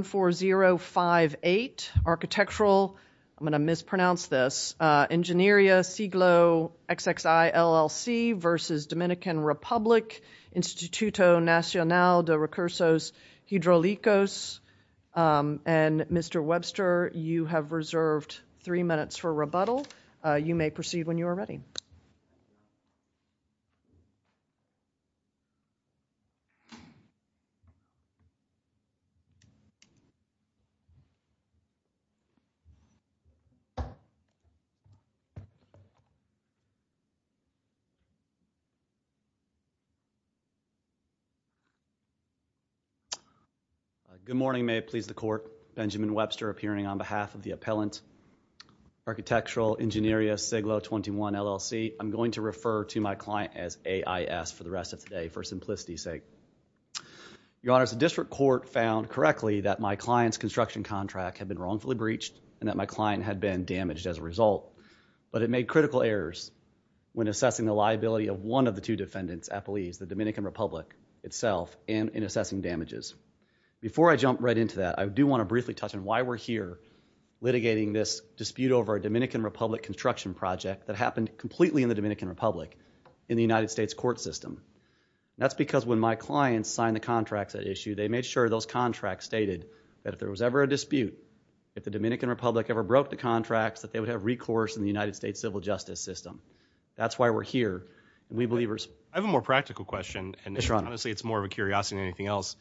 Architectural, I'm going to mispronounce this, Ingenieria Siglo XXI, LLC versus Dominican Republic Instituto Nacional de Recursos Hidrolicos. And Mr. Webster, you have reserved three minutes for rebuttal. You may proceed when you are ready. Thank you. Good morning. May it please the court. Benjamin Webster appearing on behalf of the appellant, Architectural Ingenieria Siglo XXI, LLC. I'm going to refer to my client as AIS for the rest of today for simplicity's sake. Your Honor, the district court found correctly that my client's construction contract had been wrongfully breached and that my client had been damaged as a result. But it made critical errors when assessing the liability of one of the two defendants appellees, the Dominican Republic itself, in assessing damages. Before I jump right into that, I do want to briefly touch on why we're here litigating this dispute over a Dominican Republic construction project that happened completely in the Dominican Republic in the United States court system. That's because when my clients signed the contracts at issue, they made sure those contracts stated that if there was ever a dispute, if the Dominican Republic ever broke the contracts, that they would have recourse in the United States civil justice system. That's why we're here. We believers. I have a more practical question. Yes, Your Honor. Honestly, it's more of a curiosity than anything else.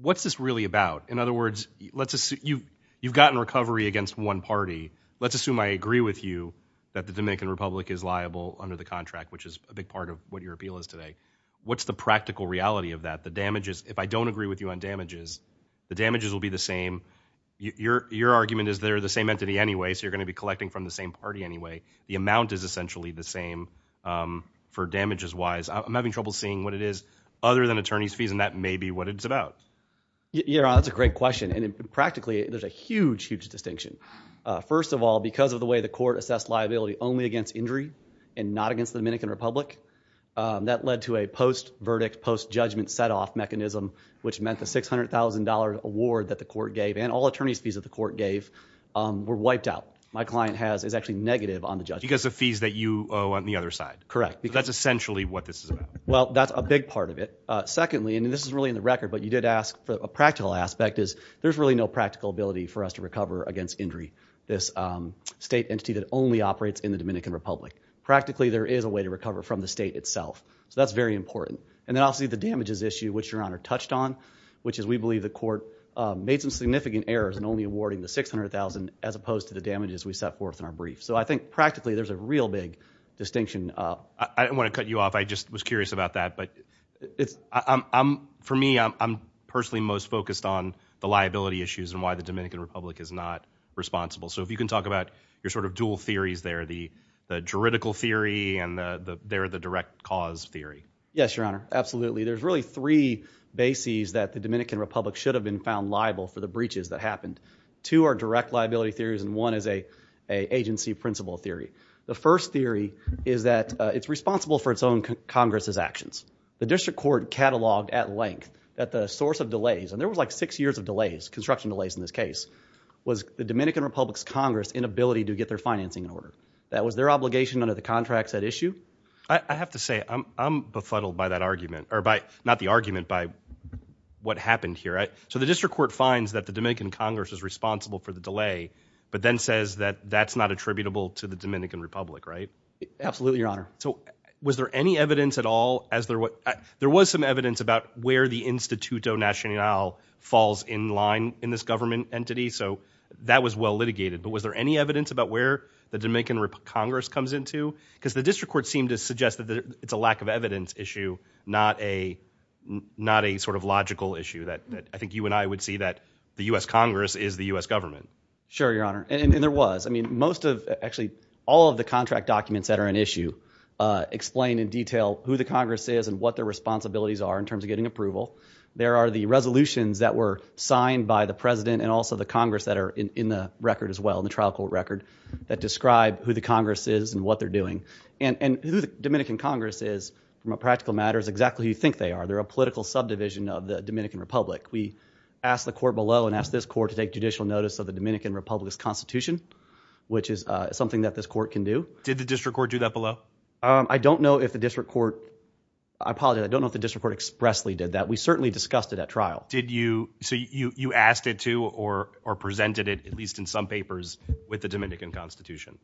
What's this really about? In other words, you've gotten recovery against one party. Let's assume I agree with you that the Dominican Republic is liable under the contract, which is a big part of what your appeal is today. What's the practical reality of that? If I don't agree with you on damages, the damages will be the same. Your argument is they're the same entity anyway, so you're going to be collecting from the same party anyway. The amount is essentially the same for damages-wise. I'm having trouble seeing what it is other than attorney's fees, and that may be what it's about. Your Honor, that's a great question. Practically, there's a huge, huge distinction. First of all, because of the way the court assessed liability only against injury and not against the Dominican Republic, that led to a post-verdict, post-judgment set-off mechanism, which meant the $600,000 award that the court gave and all attorney's fees that the court gave were wiped out. My client is actually negative on the judgment. Because of fees that you owe on the other side. Correct. That's essentially what this is about. Well, that's a big part of it. Secondly, and this is really in the record, but you did ask for a practical aspect, is there's really no practical ability for us to recover against injury. This state entity that only operates in the Dominican Republic. Practically, there is a way to recover from the state itself. That's very important. Then obviously, the damages issue, which Your Honor touched on, which is we believe the court made some significant errors in only awarding the $600,000 as opposed to the damages we set forth in our brief. I think practically, there's a real big distinction. I didn't want to cut you off. I just was curious about that. For me, I'm personally most focused on the liability issues and why the Dominican Republic is not responsible. If you can talk about your dual theories there, the juridical theory and the direct cause theory. Yes, Your Honor. Absolutely. There's really three bases that the Dominican Republic should have been found liable for the breaches that happened. Two are direct liability theories and one is an agency principle theory. The first theory is that it's responsible for its own Congress's actions. The district court cataloged at length that the source of delays, and there was like six years of delays, construction delays in this case, was the Dominican Republic's Congress inability to get their financing in order. That was their obligation under the contracts at issue. I have to say, I'm befuddled by that argument, or not the argument, by what happened here. The district court finds that the Dominican Congress is responsible for the delay, but then says that that's not attributable to the Dominican Republic, right? Absolutely, Your Honor. So, was there any evidence at all as there was some evidence about where the instituto national falls in line in this government entity? So, that was well litigated, but was there any evidence about where the Dominican Congress comes into? Because the district court seemed to suggest that it's a lack of evidence issue, not a sort of logical issue that I think you and I would see that the U.S. Congress is the U.S. government. Sure, Your Honor. And there was. I mean, most of, actually, all of the contract documents that are in issue explain in detail who the Congress is and what their responsibilities are in terms of getting approval. There are the resolutions that were signed by the President and also the Congress that are in the record as well, in the trial court record, that describe who the Congress is and what they're doing. And who the Dominican Congress is, from a practical matter, is exactly who you think they are. They're a political subdivision of the Dominican Republic. We asked the court below and asked this court to take judicial notice of the Dominican Republic's constitution, which is something that this court can do. Did the district court do that below? Um, I don't know if the district court, I apologize, I don't know if the district court expressly did that. We certainly discussed it at trial. Did you, so you, you asked it to or, or presented it at least in some papers with the Dominican constitution?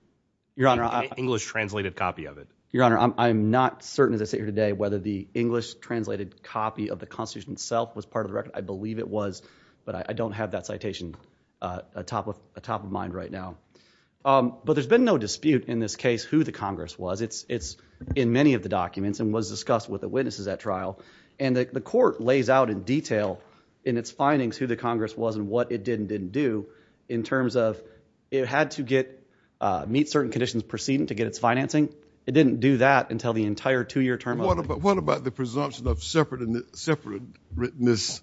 Your Honor. Any English translated copy of it? Your Honor, I'm, I'm not certain as I sit here today, whether the English translated copy of the constitution itself was part of the record. I believe it was, but I don't have that citation, uh, a top of a top of mind right now. Um, but there's been no dispute in this case, who the Congress was. It's, it's in many of the documents and was discussed with the witnesses at trial. And the court lays out in detail in its findings, who the Congress was and what it did and didn't do in terms of, it had to get, uh, meet certain conditions proceeding to get its financing. It didn't do that until the entire two year term. And what about, what about the presumption of separate and separate writtenness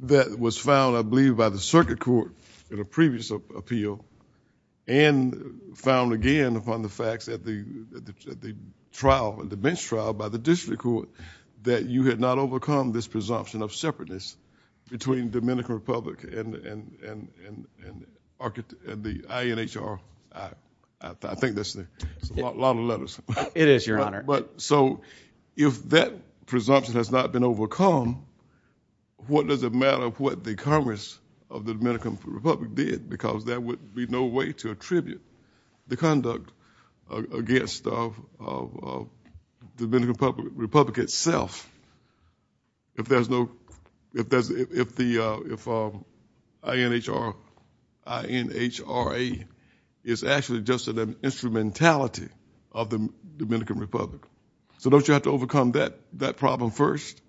that was found, I believe by the circuit court in a previous appeal and found again upon the facts that the, the trial and the bench trial by the district court that you had not overcome this presumption of separateness between Dominican Republic and, and, and, and, and the INHR. I think that's a lot of letters. It is your Honor. But so if that presumption has not been overcome, what does it matter what the Congress of the Dominican Republic did? Because there would be no way to attribute the conduct against the Dominican Republic itself. If there's no, if there's, if the, uh, if, um, INHR, INHRA is actually just an instrumentality of the Dominican Republic. So don't you have to overcome that, that problem first?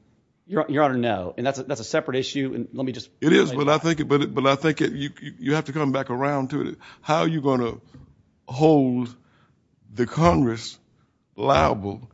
Your Honor, no. And that's a, that's a separate issue. And let me just. It is. But I think it, but, but I think you have to come back around to it. How are you going to hold the Congress liable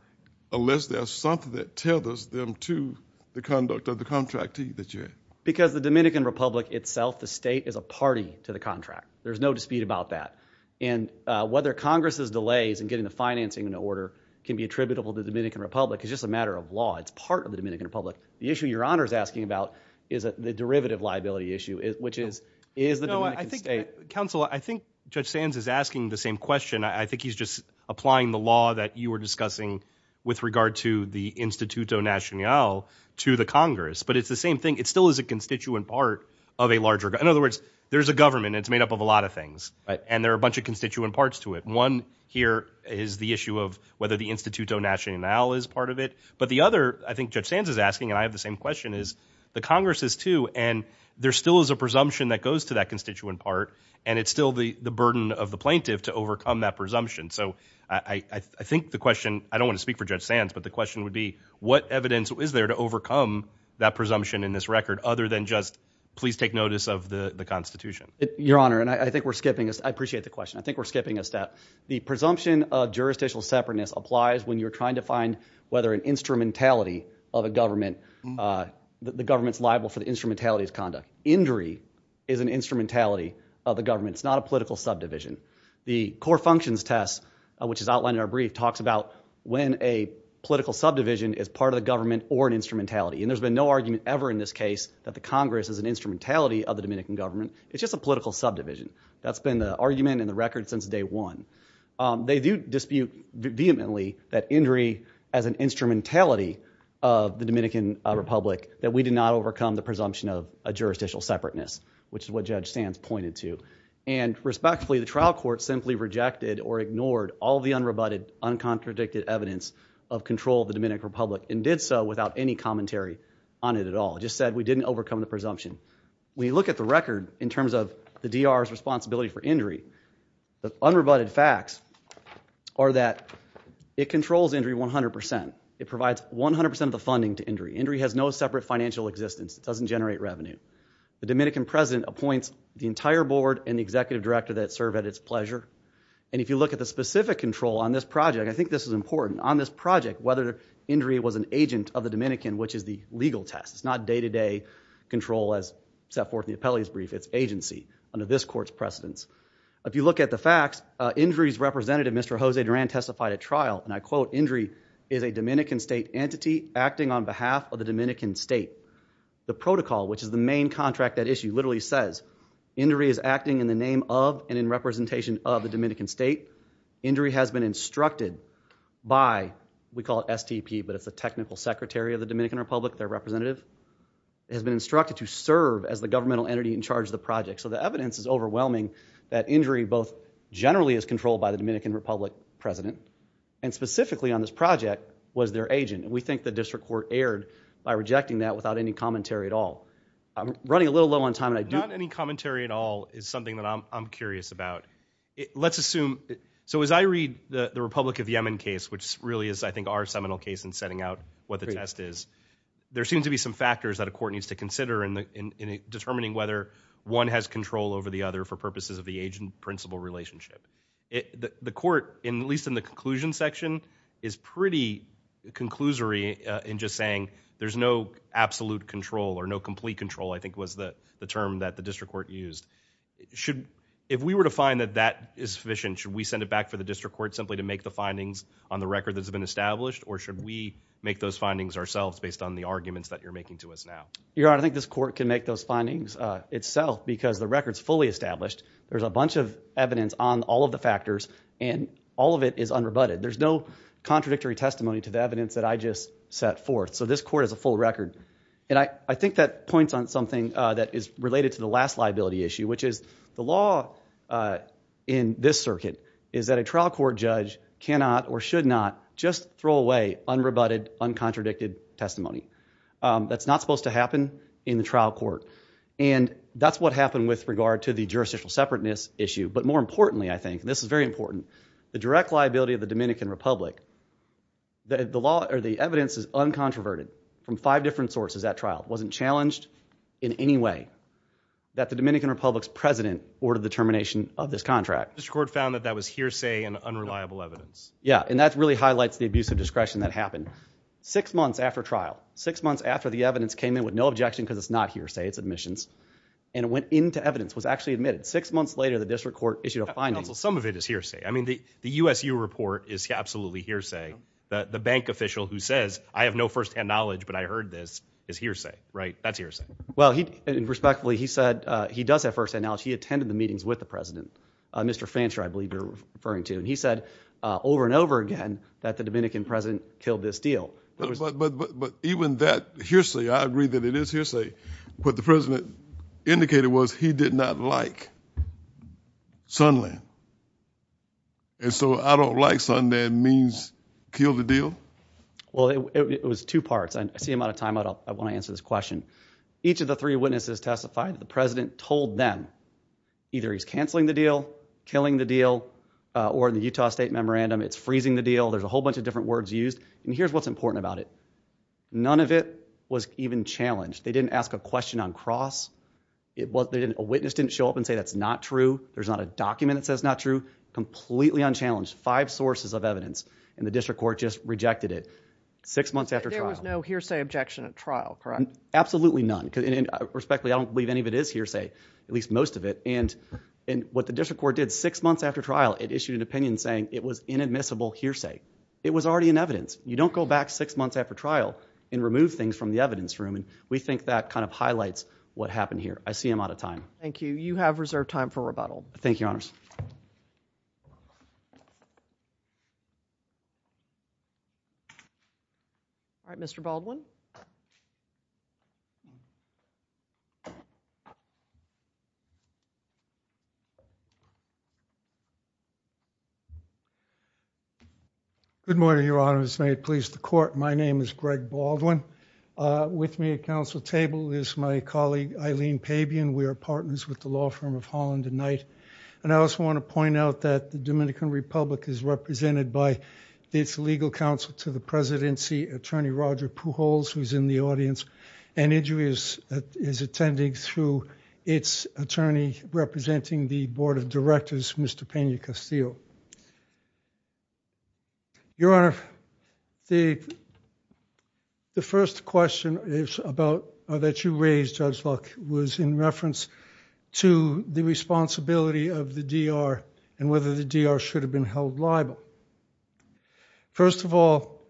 unless there's something that tethers them to the conduct of the contractee that you had? Because the Dominican Republic itself, the state is a party to the contract. There's no dispute about that. And, uh, whether Congress's delays and getting the financing in order can be attributable to the Dominican Republic. It's just a matter of law. It's part of the Dominican Republic. The issue your Honor is asking about is the derivative liability issue, which is, is the Dominican state. Counselor, I think Judge Sands is asking the same question. I think he's just applying the law that you were discussing with regard to the instituto national to the Congress, but it's the same thing. It still is a constituent part of a larger, in other words, there's a government and it's made up of a lot of things. Right. And there are a bunch of constituent parts to it. One here is the issue of whether the instituto national is part of it. But the other, I think Judge Sands is asking, and I have the same question is the Congress is too. And there still is a presumption that goes to that constituent part and it's still the burden of the plaintiff to overcome that presumption. So I, I think the question, I don't want to speak for Judge Sands, but the question would be what evidence is there to overcome that presumption in this record other than just please take notice of the constitution. Your Honor, and I think we're skipping this. I appreciate the question. I think we're skipping a step. The presumption of jurisdictional separateness applies when you're trying to find whether an instrumentality of a government, uh, the government's liable for the instrumentality of conduct. Injury is an instrumentality of the government. It's not a political subdivision. The core functions test, which is outlined in our brief talks about when a political subdivision is part of the government or an instrumentality. And there's been no argument ever in this case that the Congress is an instrumentality of the Dominican government. It's just a political subdivision. That's been the argument in the record since day one. Um, they do dispute vehemently that injury as an instrumentality of the Dominican Republic that we did not overcome the presumption of a jurisdictional separateness, which is what Judge Sands pointed to. And respectfully, the trial court simply rejected or ignored all the unrebutted, uncontradicted evidence of control of the Dominican Republic and did so without any commentary on it at all. It just said we didn't overcome the presumption. When you look at the record in terms of the DR's responsibility for injury, the unrebutted facts are that it controls injury 100%. It provides 100% of the funding to injury. Injury has no separate financial existence. It doesn't generate revenue. The Dominican president appoints the entire board and the executive director that serve at its pleasure. And if you look at the specific control on this project, I think this is important. On this project, whether injury was an agent of the Dominican, which is the legal test. It's not day-to-day control as set forth in the appellee's brief. It's agency under this court's precedence. If you look at the facts, injuries representative, Mr. Jose Duran, testified at trial. And I quote, injury is a Dominican state entity acting on behalf of the Dominican state. The protocol, which is the main contract that issue, literally says injury is acting in the name of and in representation of the Dominican state. Injury has been instructed by, we call it STP, but it's the technical secretary of the Dominican Republic. Their representative has been instructed to serve as the governmental entity in charge of the project. So the evidence is overwhelming that injury both generally is controlled by the Dominican Republic president and specifically on this project was their agent. And we think the district court erred by rejecting that without any commentary at all. I'm running a little low on time. Not any commentary at all is something that I'm curious about. Let's assume, so as I read the Republic of Yemen case, which really is, I think, our seminal case in setting out what the test is, there seems to be some factors that a court needs to consider in determining whether one has control over the other for purposes of the agent-principal relationship. The court, at least in the conclusion section, is pretty conclusory in just saying there's no absolute control or no complete control, I think was the term that the district court used. If we were to find that that is sufficient, should we send it back for the district court simply to make the findings on the record that's been established or should we make those findings ourselves based on the arguments that you're making to us now? Your Honor, I think this court can make those findings itself because the record's fully established. There's a bunch of evidence on all of the factors and all of it is unrebutted. There's no contradictory testimony to the evidence that I just set forth. So this court has a full record. And I think that points on something that is related to the last liability issue, which is the law in this circuit is that a trial court judge cannot or should not just throw away unrebutted, uncontradicted testimony. That's not supposed to happen in the trial court. And that's what happened with regard to the jurisdictional separateness issue. But more importantly, I think, and this is very important, the direct liability of the Dominican Republic, the evidence is uncontroverted from five different sources at trial. It wasn't challenged in any way that the Dominican Republic's president ordered the termination of this contract. The district court found that that was hearsay and unreliable evidence. Yeah. And that really highlights the abuse of discretion that happened. Six months after trial, six months after the evidence came in with no objection because it's not hearsay, it's admissions, and it went into evidence, was actually admitted. Six months later, the district court issued a finding. Counsel, some of it is hearsay. I mean, the USU report is absolutely hearsay. The bank official who says, I have no firsthand knowledge, but I heard this, is hearsay, right? That's hearsay. Well, and respectfully, he said he does have firsthand knowledge. He attended the meetings with the president, Mr. Fancher, I believe you're referring to. And he said over and over again that the Dominican president killed this deal. But even that hearsay, I agree that it is hearsay. What the president indicated was he did not like Sundland. And so, I don't like Sundland means kill the deal? Well, it was two parts. I see I'm out of time. I want to answer this question. Each of the three witnesses testified that the president told them, either he's canceling the deal, killing the deal, or in the Utah State Memorandum, it's freezing the deal. There's a whole bunch of different words used. And here's what's important about it. None of it was even challenged. They didn't ask a question on cross. A witness didn't show up and say that's not true. There's not a document that says not true. Completely unchallenged. Five sources of evidence. And the district court just rejected it. Six months after trial. There was no hearsay objection at trial, correct? Absolutely none. Respectfully, I don't believe any of it is hearsay. At least most of it. And what the district court did six months after trial, it issued an opinion saying it was inadmissible hearsay. It was already in evidence. You don't go back six months after trial and remove things from the evidence room. We think that kind of highlights what happened here. I see I'm out of time. Thank you. You have reserved time for rebuttal. Thank you, Your Honors. Mr. Baldwin. Good morning, Your Honors. May it please the court. My name is Greg Baldwin. With me at council table is my colleague Eileen Pabian. We are partners with the law firm of Holland and Knight. And I also want to point out that the Dominican Republic is represented by its legal counsel to the presidency, attorney Roger Pujols, who is in the audience. And Iju is attending through its attorney representing the board of directors, Mr. Peña-Castillo. Your Honor, the first question that you raised, Judge Luck, was in reference to the responsibility of the DR and whether the DR should have been held liable. First of all,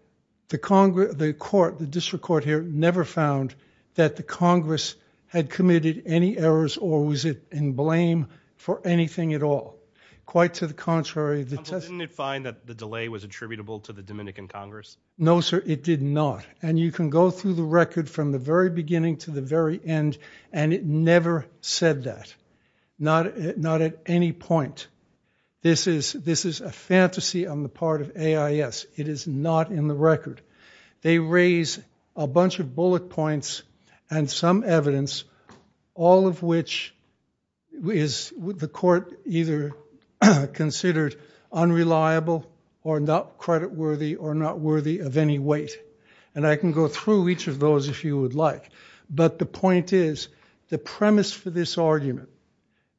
the district court here never found that the Congress had committed any errors or was in blame for anything at all. Quite to the contrary. Counsel, didn't it find that the delay was attributable to the Dominican Congress? No, sir, it did not. And you can go through the record from the very beginning to the very end, and it never said that. Not at any point. This is a fantasy on the part of AIS. It is not in the record. They raise a bunch of bullet points and some evidence, all of which is the court either considered unreliable or not credit worthy or not worthy of any weight. And I can go through each of those if you would like. But the point is, the premise for this argument,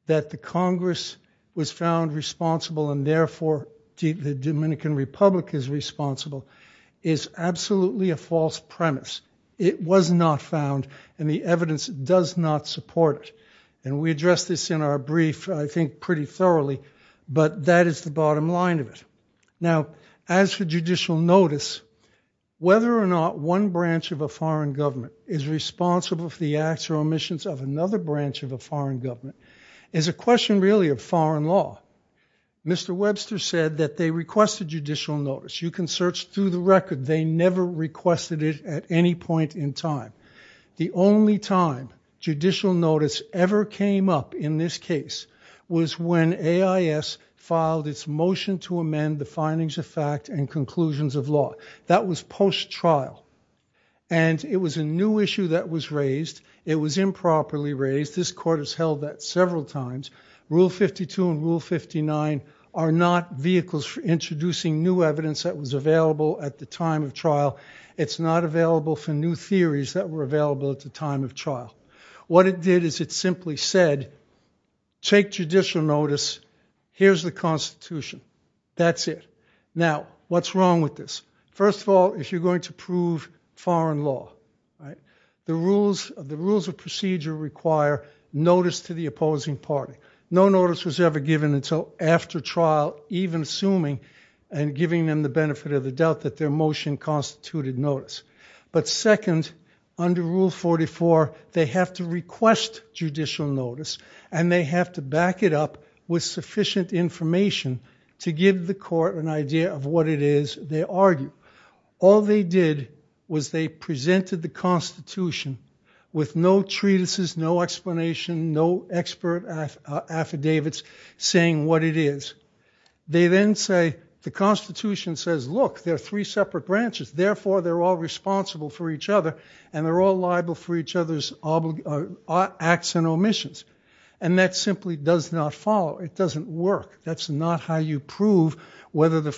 that the Congress was found responsible and therefore the Dominican Republic is responsible, is absolutely a false premise. It was not found. And the evidence does not support it. And we addressed this in our brief, I think, pretty thoroughly. But that is the bottom line of it. Now, as for judicial notice, whether or not one branch of a foreign government is responsible for the acts or omissions of another branch of a foreign government is a question really of foreign law. Mr. Webster said that they requested judicial notice. You can search through the record. They never requested it at any point in time. The only time judicial notice ever came up in this case was when AIS filed its motion to amend the findings of fact and conclusions of law. That was post-trial. And it was a new issue that was raised. It was improperly raised. This court has held that several times. Rule 52 and Rule 59 are not vehicles for introducing new evidence that was available at the time of trial. It's not available for new theories that were available at the time of trial. What it did is it simply said, take judicial notice. Here's the Constitution. That's it. Now, what's wrong with this? First of all, if you're going to prove foreign law, the rules of procedure require notice to the opposing party. No notice was ever given until after trial, even assuming and giving them the benefit of the doubt that their motion constituted notice. But second, under Rule 44, they have to request judicial notice, and they have to back it up with sufficient information to give the court an idea of what it is they argue. All they did was they presented the Constitution with no treatises, no explanation, no expert affidavits saying what it is. They then say, the Constitution says, look, there are three separate branches. Therefore, they're all responsible for each other, and they're all liable for each other's acts and omissions. And that simply does not follow. It doesn't work. That's not how you prove whether the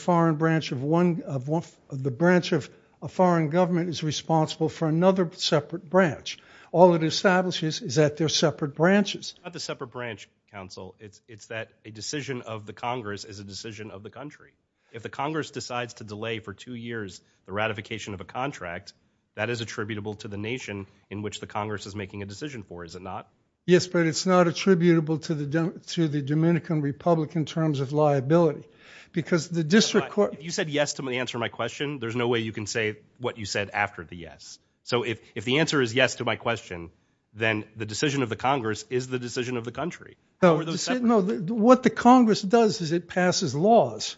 branch of a foreign government is responsible for another separate branch. All it establishes is that they're separate branches. It's not the separate branch, counsel. It's that a decision of the Congress is a decision of the country. If the Congress decides to delay for two years the ratification of a contract, that is attributable to the nation in which the Congress is making a decision for, is it not? Yes, but it's not attributable to the Dominican Republic in terms of liability. Because the district court... You said yes to the answer to my question. There's no way you can say what you said after the yes. So if the answer is yes to my question, then the decision of the Congress is the decision of the country. No, what the Congress does is it passes laws.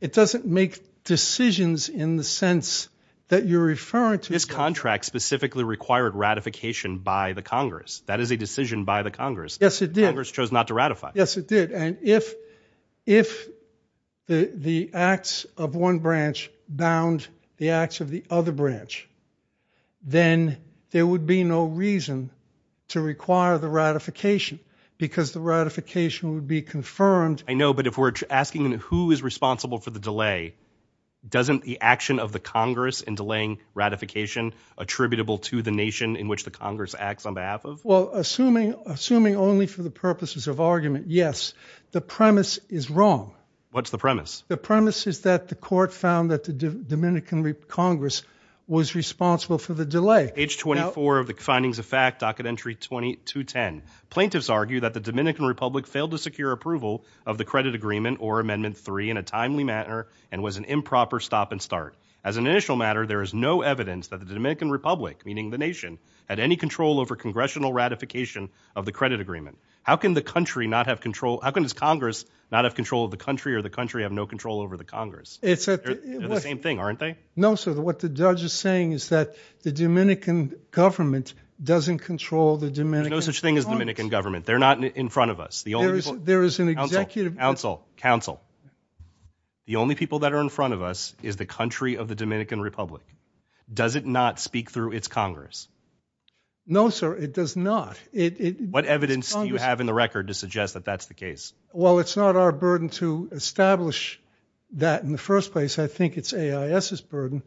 It doesn't make decisions in the sense that you're referring to. This contract specifically required ratification by the Congress. That is a decision by the Congress. Yes, it did. Congress chose not to ratify. Yes, it did. And if the acts of one branch bound the acts of the other branch, then there would be no reason to require the ratification because the ratification would be confirmed. I know, but if we're asking who is responsible for the delay, doesn't the action of the Congress in delaying ratification attributable to the nation in which the Congress acts on behalf of? Well, assuming only for the purposes of argument, yes. The premise is wrong. What's the premise? The premise is that the court found that the Dominican Congress was responsible for the delay. Page 24 of the findings of fact, docket entry 2210. Plaintiffs argue that the Dominican Republic failed to secure approval of the credit agreement or amendment three in a timely manner and was an improper stop and start. As an initial matter, there is no evidence that the Dominican Republic, meaning the nation, had any control over congressional ratification of the credit agreement. How can the country not have control? How can this Congress not have control of the country or the country have no control over the Congress? It's the same thing, aren't they? No, sir. What the judge is saying is that the Dominican government doesn't control the Dominican. There's no such thing as Dominican government. They're not in front of us. There is an executive. Counsel, counsel, counsel. The only people that are in front of us is the country of the Dominican Republic. Does it not speak through its Congress? No, sir, it does not. What evidence do you have in the record to suggest that that's the case? Well, it's not our burden to establish that in the first place. I think it's AIS's burden.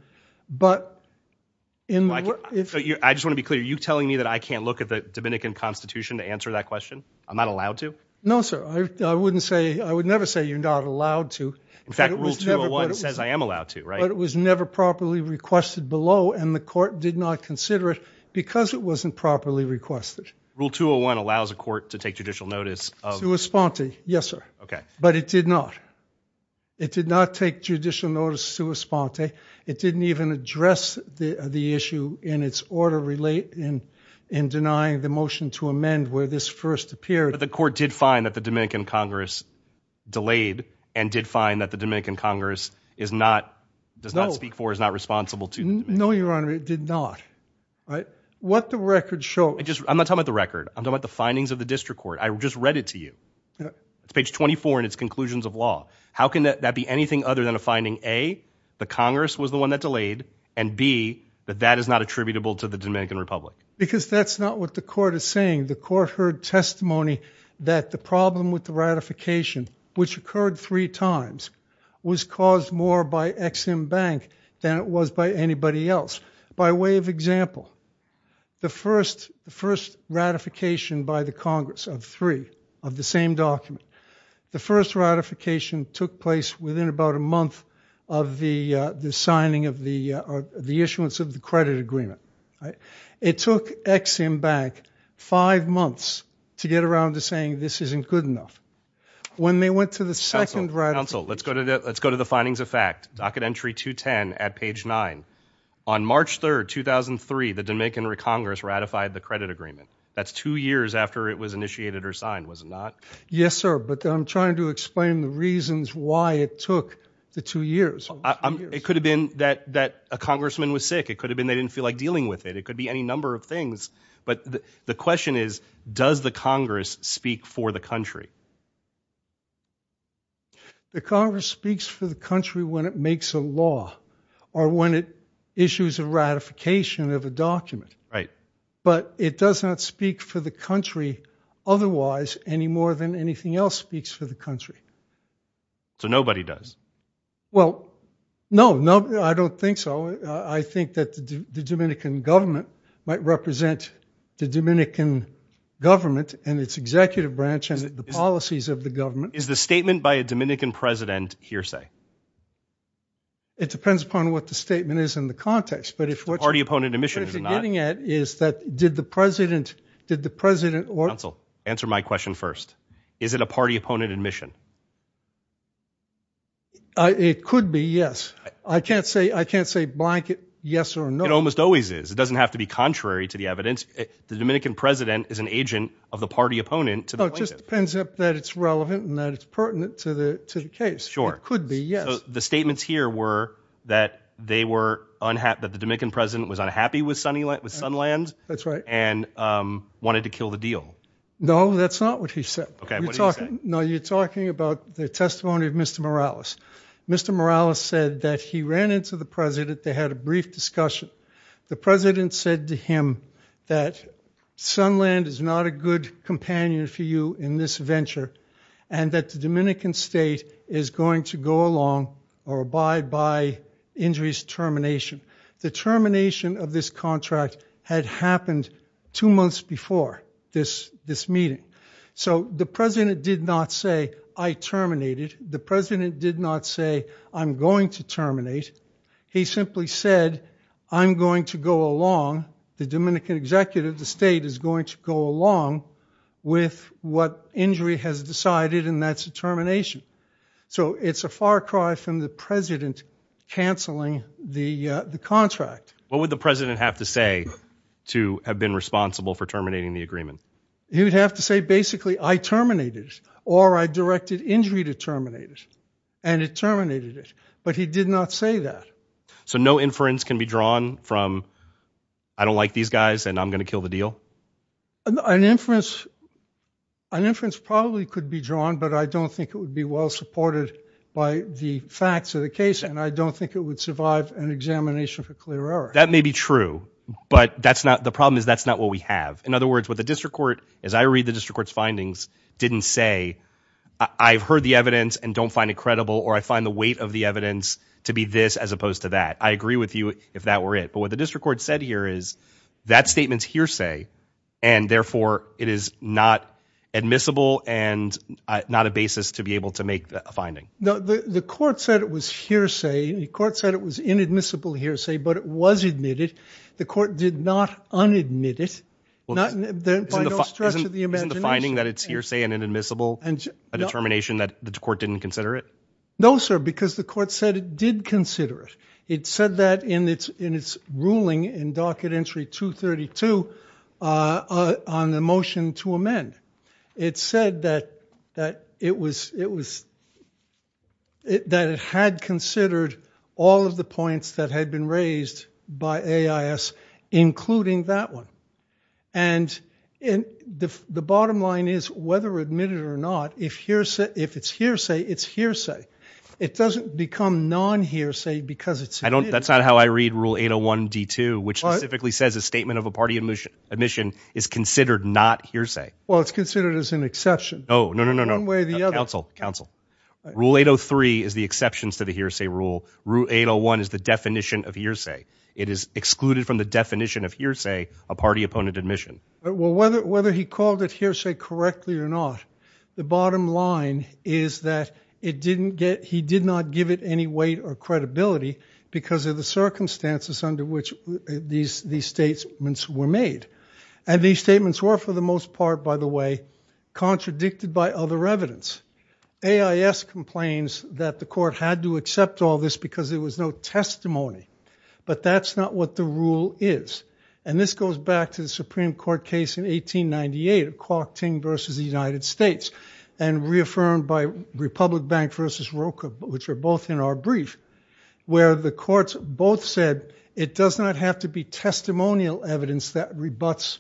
But in the... I just want to be clear. Are you telling me that I can't look at the Dominican constitution to answer that question? I'm not allowed to? No, sir. I wouldn't say, I would never say you're not allowed to. In fact, rule 201 says I am allowed to, right? But it was never properly requested below, and the court did not consider it because it wasn't properly requested. Rule 201 allows a court to take judicial notice of... Yes, sir. Okay. But it did not. It did not take judicial notice to respond. It didn't even address the issue in its order relate in denying the motion to amend where this first appeared. But the court did find that the Dominican Congress delayed and did find that the Dominican Congress is not, does not speak for, is not responsible to... No, your honor, it did not. What the record shows... I'm not talking about the record. I'm talking about the findings of the district court. I just read it to you. It's page 24 in its conclusions of law. How can that be anything other than a finding, A, the Congress was the one that delayed, and B, that that is not attributable to the Dominican Republic? Because that's not what the court is saying. The court heard testimony that the problem with the ratification, which occurred three times, was caused more by Ex-Im Bank than it was by anybody else. By way of example, the first ratification by the Congress of three of the same document, the first ratification took place within about a month of the signing of the issuance of the credit agreement. It took Ex-Im Bank five months to get around to saying this isn't good enough. When they went to the second ratification... Counsel, let's go to the findings of fact. Docket entry 210 at page 9. On March 3rd, 2003, the Dominican Congress ratified the credit agreement. That's two years after it was initiated or signed, was it not? Yes, sir, but I'm trying to explain the reasons why it took the two years. It could have been that a congressman was sick. It could have been they didn't feel like dealing with it. It could be any number of things. But the question is, does the Congress speak for the country? The Congress speaks for the country when it makes a law or when it issues a ratification of a document. Right. But it does not speak for the country otherwise any more than anything else speaks for the country. So nobody does? Well, no, I don't think so. I think that the Dominican government might represent the Dominican government and its executive branch and the policies of the government. Is the statement by a Dominican president hearsay? It depends upon what the statement is in the context, but if... Party opponent admission, is it not? What you're getting at is that did the president... Counsel, answer my question first. Is it a party opponent admission? It could be, yes. I can't say, I can't say blanket yes or no. It almost always is. It doesn't have to be contrary to the evidence. The Dominican president is an agent of the party opponent to the plaintiff. It just depends if that it's relevant and that it's pertinent to the case. Sure. It could be, yes. So the statements here were that they were unhappy... That the Dominican president was unhappy with Sunland? That's right. And wanted to kill the deal? No, that's not what he said. Okay, what did he say? No, you're talking about the testimony of Mr. Morales. Mr. Morales said that he ran into the president. They had a brief discussion. The president said to him that Sunland is not a good companion for you in this venture. And that the Dominican state is going to go along or abide by injuries termination. The termination of this contract had happened two months before this meeting. So the president did not say, I terminate it. The president did not say, I'm going to terminate. He simply said, I'm going to go along. The Dominican executive, the state, is going to go along with what injury has decided. And that's a termination. So it's a far cry from the president canceling the contract. What would the president have to say to have been responsible for terminating the agreement? He would have to say, basically, I terminate it. Or I directed injury to terminate it. And it terminated it. But he did not say that. So no inference can be drawn from, I don't like these guys and I'm going to kill the deal? An inference probably could be drawn. But I don't think it would be well supported by the facts of the case. And I don't think it would survive an examination for clear error. That may be true. But the problem is that's not what we have. In other words, what the district court, as I read the district court's findings, didn't say, I've heard the evidence and don't find it credible. Or I find the weight of the evidence to be this as opposed to that. I agree with you if that were it. But what the district court said here is that statement's hearsay. And, therefore, it is not admissible and not a basis to be able to make a finding. The court said it was hearsay. The court said it was inadmissible hearsay. But it was admitted. The court did not unadmit it. By no stretch of the imagination. Isn't the finding that it's hearsay and inadmissible a determination that the court didn't consider it? No, sir, because the court said it did consider it. It said that in its ruling in docket entry 232 on the motion to amend. It said that it had considered all of the points that had been raised by AIS, including that one. And the bottom line is, whether admitted or not, if it's hearsay, it's hearsay. It doesn't become non-hearsay because it's admitted. That's not how I read rule 801 D2, which specifically says a statement of a party admission is considered not hearsay. Well, it's considered as an exception. No, no, no, no, no. One way or the other. Counsel, counsel. Rule 803 is the exceptions to the hearsay rule. Rule 801 is the definition of hearsay. It is excluded from the definition of hearsay, a party opponent admission. Well, whether he called it hearsay correctly or not, the bottom line is that he did not give it any weight or credibility because of the circumstances under which these statements were made. And these statements were, for the most part, by the way, contradicted by other evidence. AIS complains that the court had to accept all this because there was no testimony. But that's not what the rule is. And this goes back to the Supreme Court case in 1898, Kwok Ting versus the United States, and reaffirmed by Republic Bank versus Roka, which are both in our brief, where the courts both said it does not have to be testimonial evidence that rebutts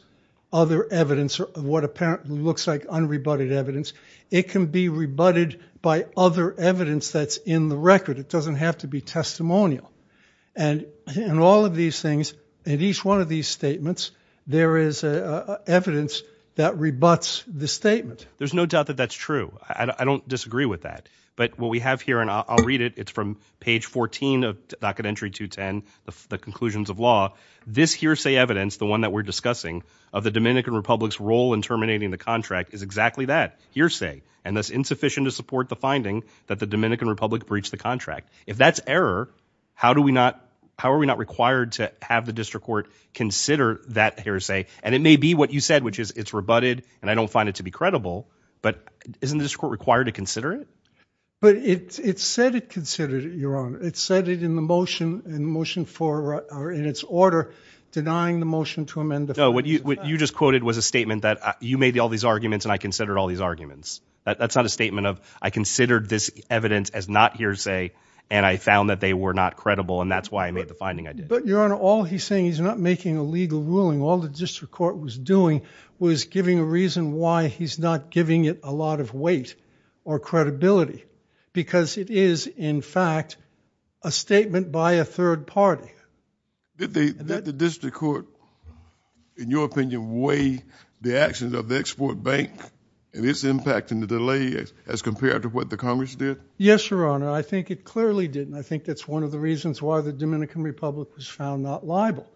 other evidence of what apparently looks like unrebutted evidence. It can be rebutted by other evidence that's in the record. It doesn't have to be testimonial. And in all of these things, in each one of these statements, there is evidence that rebuts the statement. There's no doubt that that's true. I don't disagree with that. But what we have here, and I'll read it, it's from page 14 of Docket Entry 210, the conclusions of law. This hearsay evidence, the one that we're discussing, of the Dominican Republic's role in terminating the contract is exactly that, hearsay. And that's insufficient to support the finding that the Dominican Republic breached the contract. If that's error, how are we not required to have the district court consider that hearsay? And it may be what you said, which is it's rebutted, and I don't find it to be credible. But isn't the district court required to consider it? But it said it considered it, Your Honor. It said it in the motion for, or in its order, denying the motion to amend the facts. No, what you just quoted was a statement that you made all these arguments, and I considered all these arguments. That's not a statement of I considered this evidence as not hearsay, and I found that they were not credible, and that's why I made the finding I did. But, Your Honor, all he's saying, he's not making a legal ruling. All the district court was doing was giving a reason why he's not giving it a lot of weight or credibility because it is, in fact, a statement by a third party. Did the district court, in your opinion, weigh the actions of the Export Bank and its impact and the delay as compared to what the Congress did? Yes, Your Honor. I think it clearly did, and I think that's one of the reasons why the Dominican Republic was found not liable.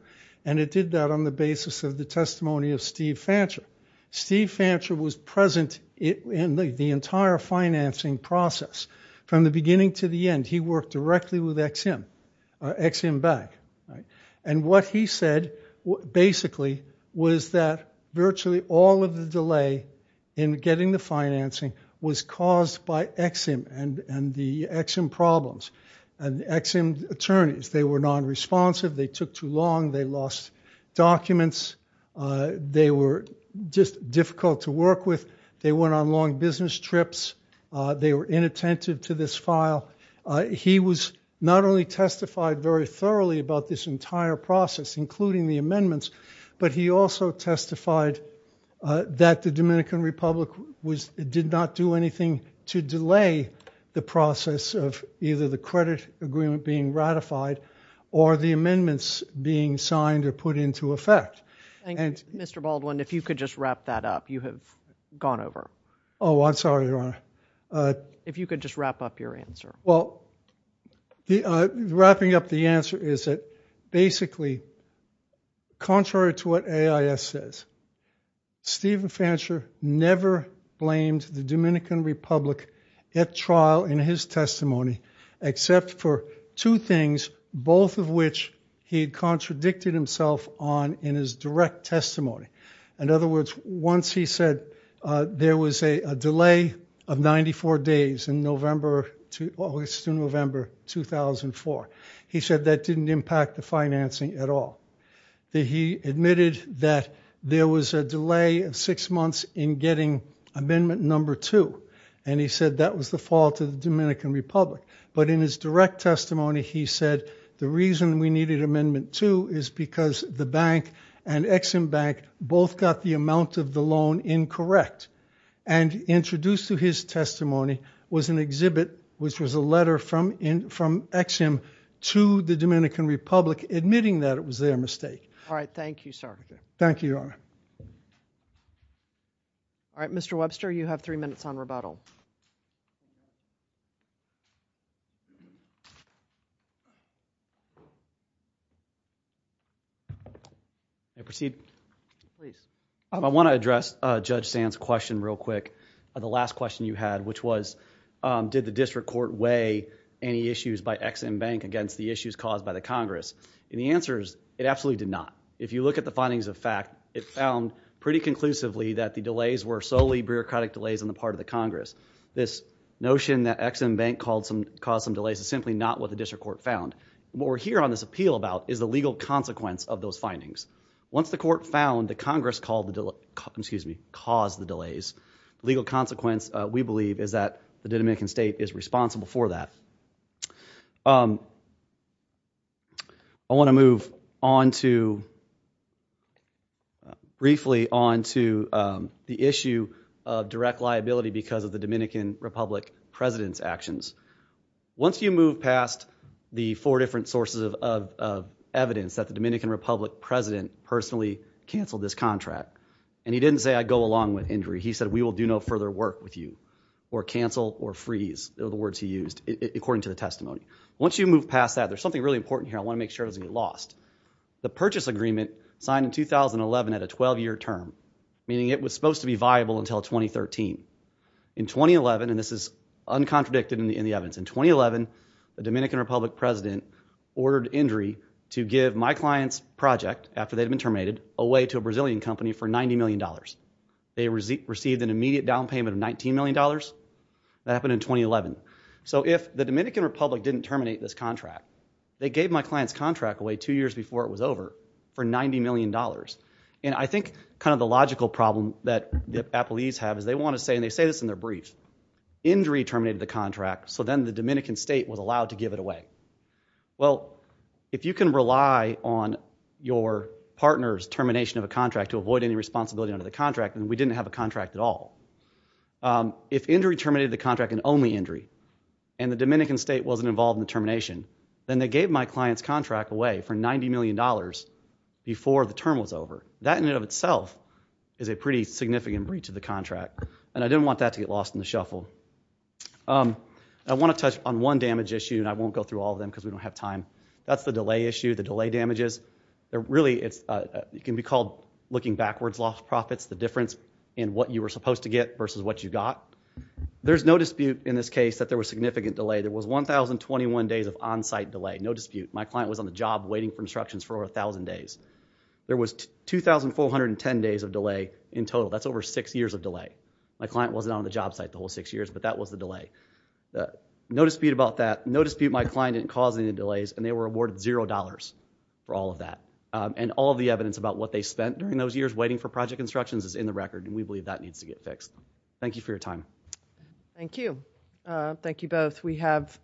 And it did that on the basis of the testimony of Steve Fancher. Steve Fancher was present in the entire financing process. From the beginning to the end, he worked directly with Ex-Im Bank. And what he said, basically, was that virtually all of the delay in getting the financing was caused by Ex-Im and the Ex-Im problems and Ex-Im attorneys. They were nonresponsive. They took too long. They lost documents. They were just difficult to work with. They went on long business trips. They were inattentive to this file. He was not only testified very thoroughly about this entire process, including the amendments, but he also testified that the Dominican Republic did not do anything to delay the process of either the credit agreement being ratified or the amendments being signed or put into effect. Thank you. Mr. Baldwin, if you could just wrap that up. You have gone over. Oh, I'm sorry, Your Honor. If you could just wrap up your answer. Well, wrapping up the answer is that, basically, contrary to what AIS says, Steve Fancher never blamed the Dominican Republic at trial in his testimony except for two things, both of which he had contradicted himself on in his direct testimony. In other words, once he said there was a delay of 94 days to November 2004, he said that didn't impact the financing at all. He admitted that there was a delay of six months in getting amendment number two, and he said that was the fault of the Dominican Republic. But in his direct testimony, he said the reason we needed amendment two is because the bank and Ex-Im Bank both got the amount of the loan incorrect. And introduced to his testimony was an exhibit, which was a letter from Ex-Im to the Dominican Republic admitting that it was their mistake. All right. Thank you, sir. Thank you, Your Honor. All right. Mr. Webster, you have three minutes on rebuttal. May I proceed? Please. I want to address Judge Sand's question real quick. The last question you had, which was, did the district court weigh any issues by Ex-Im Bank against the issues caused by the Congress? And the answer is, it absolutely did not. If you look at the findings of fact, it found pretty conclusively that the delays were solely bureaucratic delays on the part of the Congress. This notion that Ex-Im Bank caused some delays is simply not what the district court found. What we're here on this appeal about is the legal consequence of those findings. Once the court found that Congress caused the delays, the legal consequence, we believe, is that the Dominican state is responsible for that. I want to move on to briefly on to the issue of direct liability because of the Dominican Republic president's actions. Once you move past the four different sources of evidence that the Dominican Republic president personally canceled this contract, and he didn't say, I go along with injury. He said, we will do no further work with you, or cancel, or freeze, are the words he used, according to the testimony. Once you move past that, there's something really important here I want to make sure doesn't get lost. The purchase agreement signed in 2011 at a 12-year term, meaning it was supposed to be viable until 2013. In 2011, and this is uncontradicted in the evidence, in 2011, the Dominican Republic president ordered injury to give my client's project, after they'd been terminated, away to a Brazilian company for $90 million. They received an immediate down payment of $19 million. That happened in 2011. If the Dominican Republic didn't terminate this contract, they gave my client's contract away two years before it was over for $90 million. I think the logical problem that the appellees have is they want to say, and they say this in their brief, injury terminated the contract, so then the Dominican state was allowed to give it away. Well, if you can rely on your partner's termination of a contract to avoid any responsibility under the contract, then we didn't have a contract at all. If injury terminated the contract and only injury, and the Dominican state wasn't involved in the termination, then they gave my client's contract away for $90 million before the term was over. That in and of itself is a pretty significant breach of the contract, and I didn't want that to get lost in the shuffle. I want to touch on one damage issue, and I won't go through all of them because we don't have time. That's the delay issue, the delay damages. It can be called looking backwards, lost profits, the difference in what you were supposed to get versus what you got. There's no dispute in this case that there was significant delay. There was 1,021 days of on-site delay, no dispute. My client was on the job waiting for instructions for over 1,000 days. There was 2,410 days of delay in total. That's over six years of delay. My client wasn't on the job site the whole six years, but that was the delay. No dispute about that. No dispute my client didn't cause any delays, and they were awarded $0 for all of that. All of the evidence about what they spent during those years waiting for project instructions is in the record, and we believe that needs to get fixed. Thank you for your time. Thank you. Thank you both.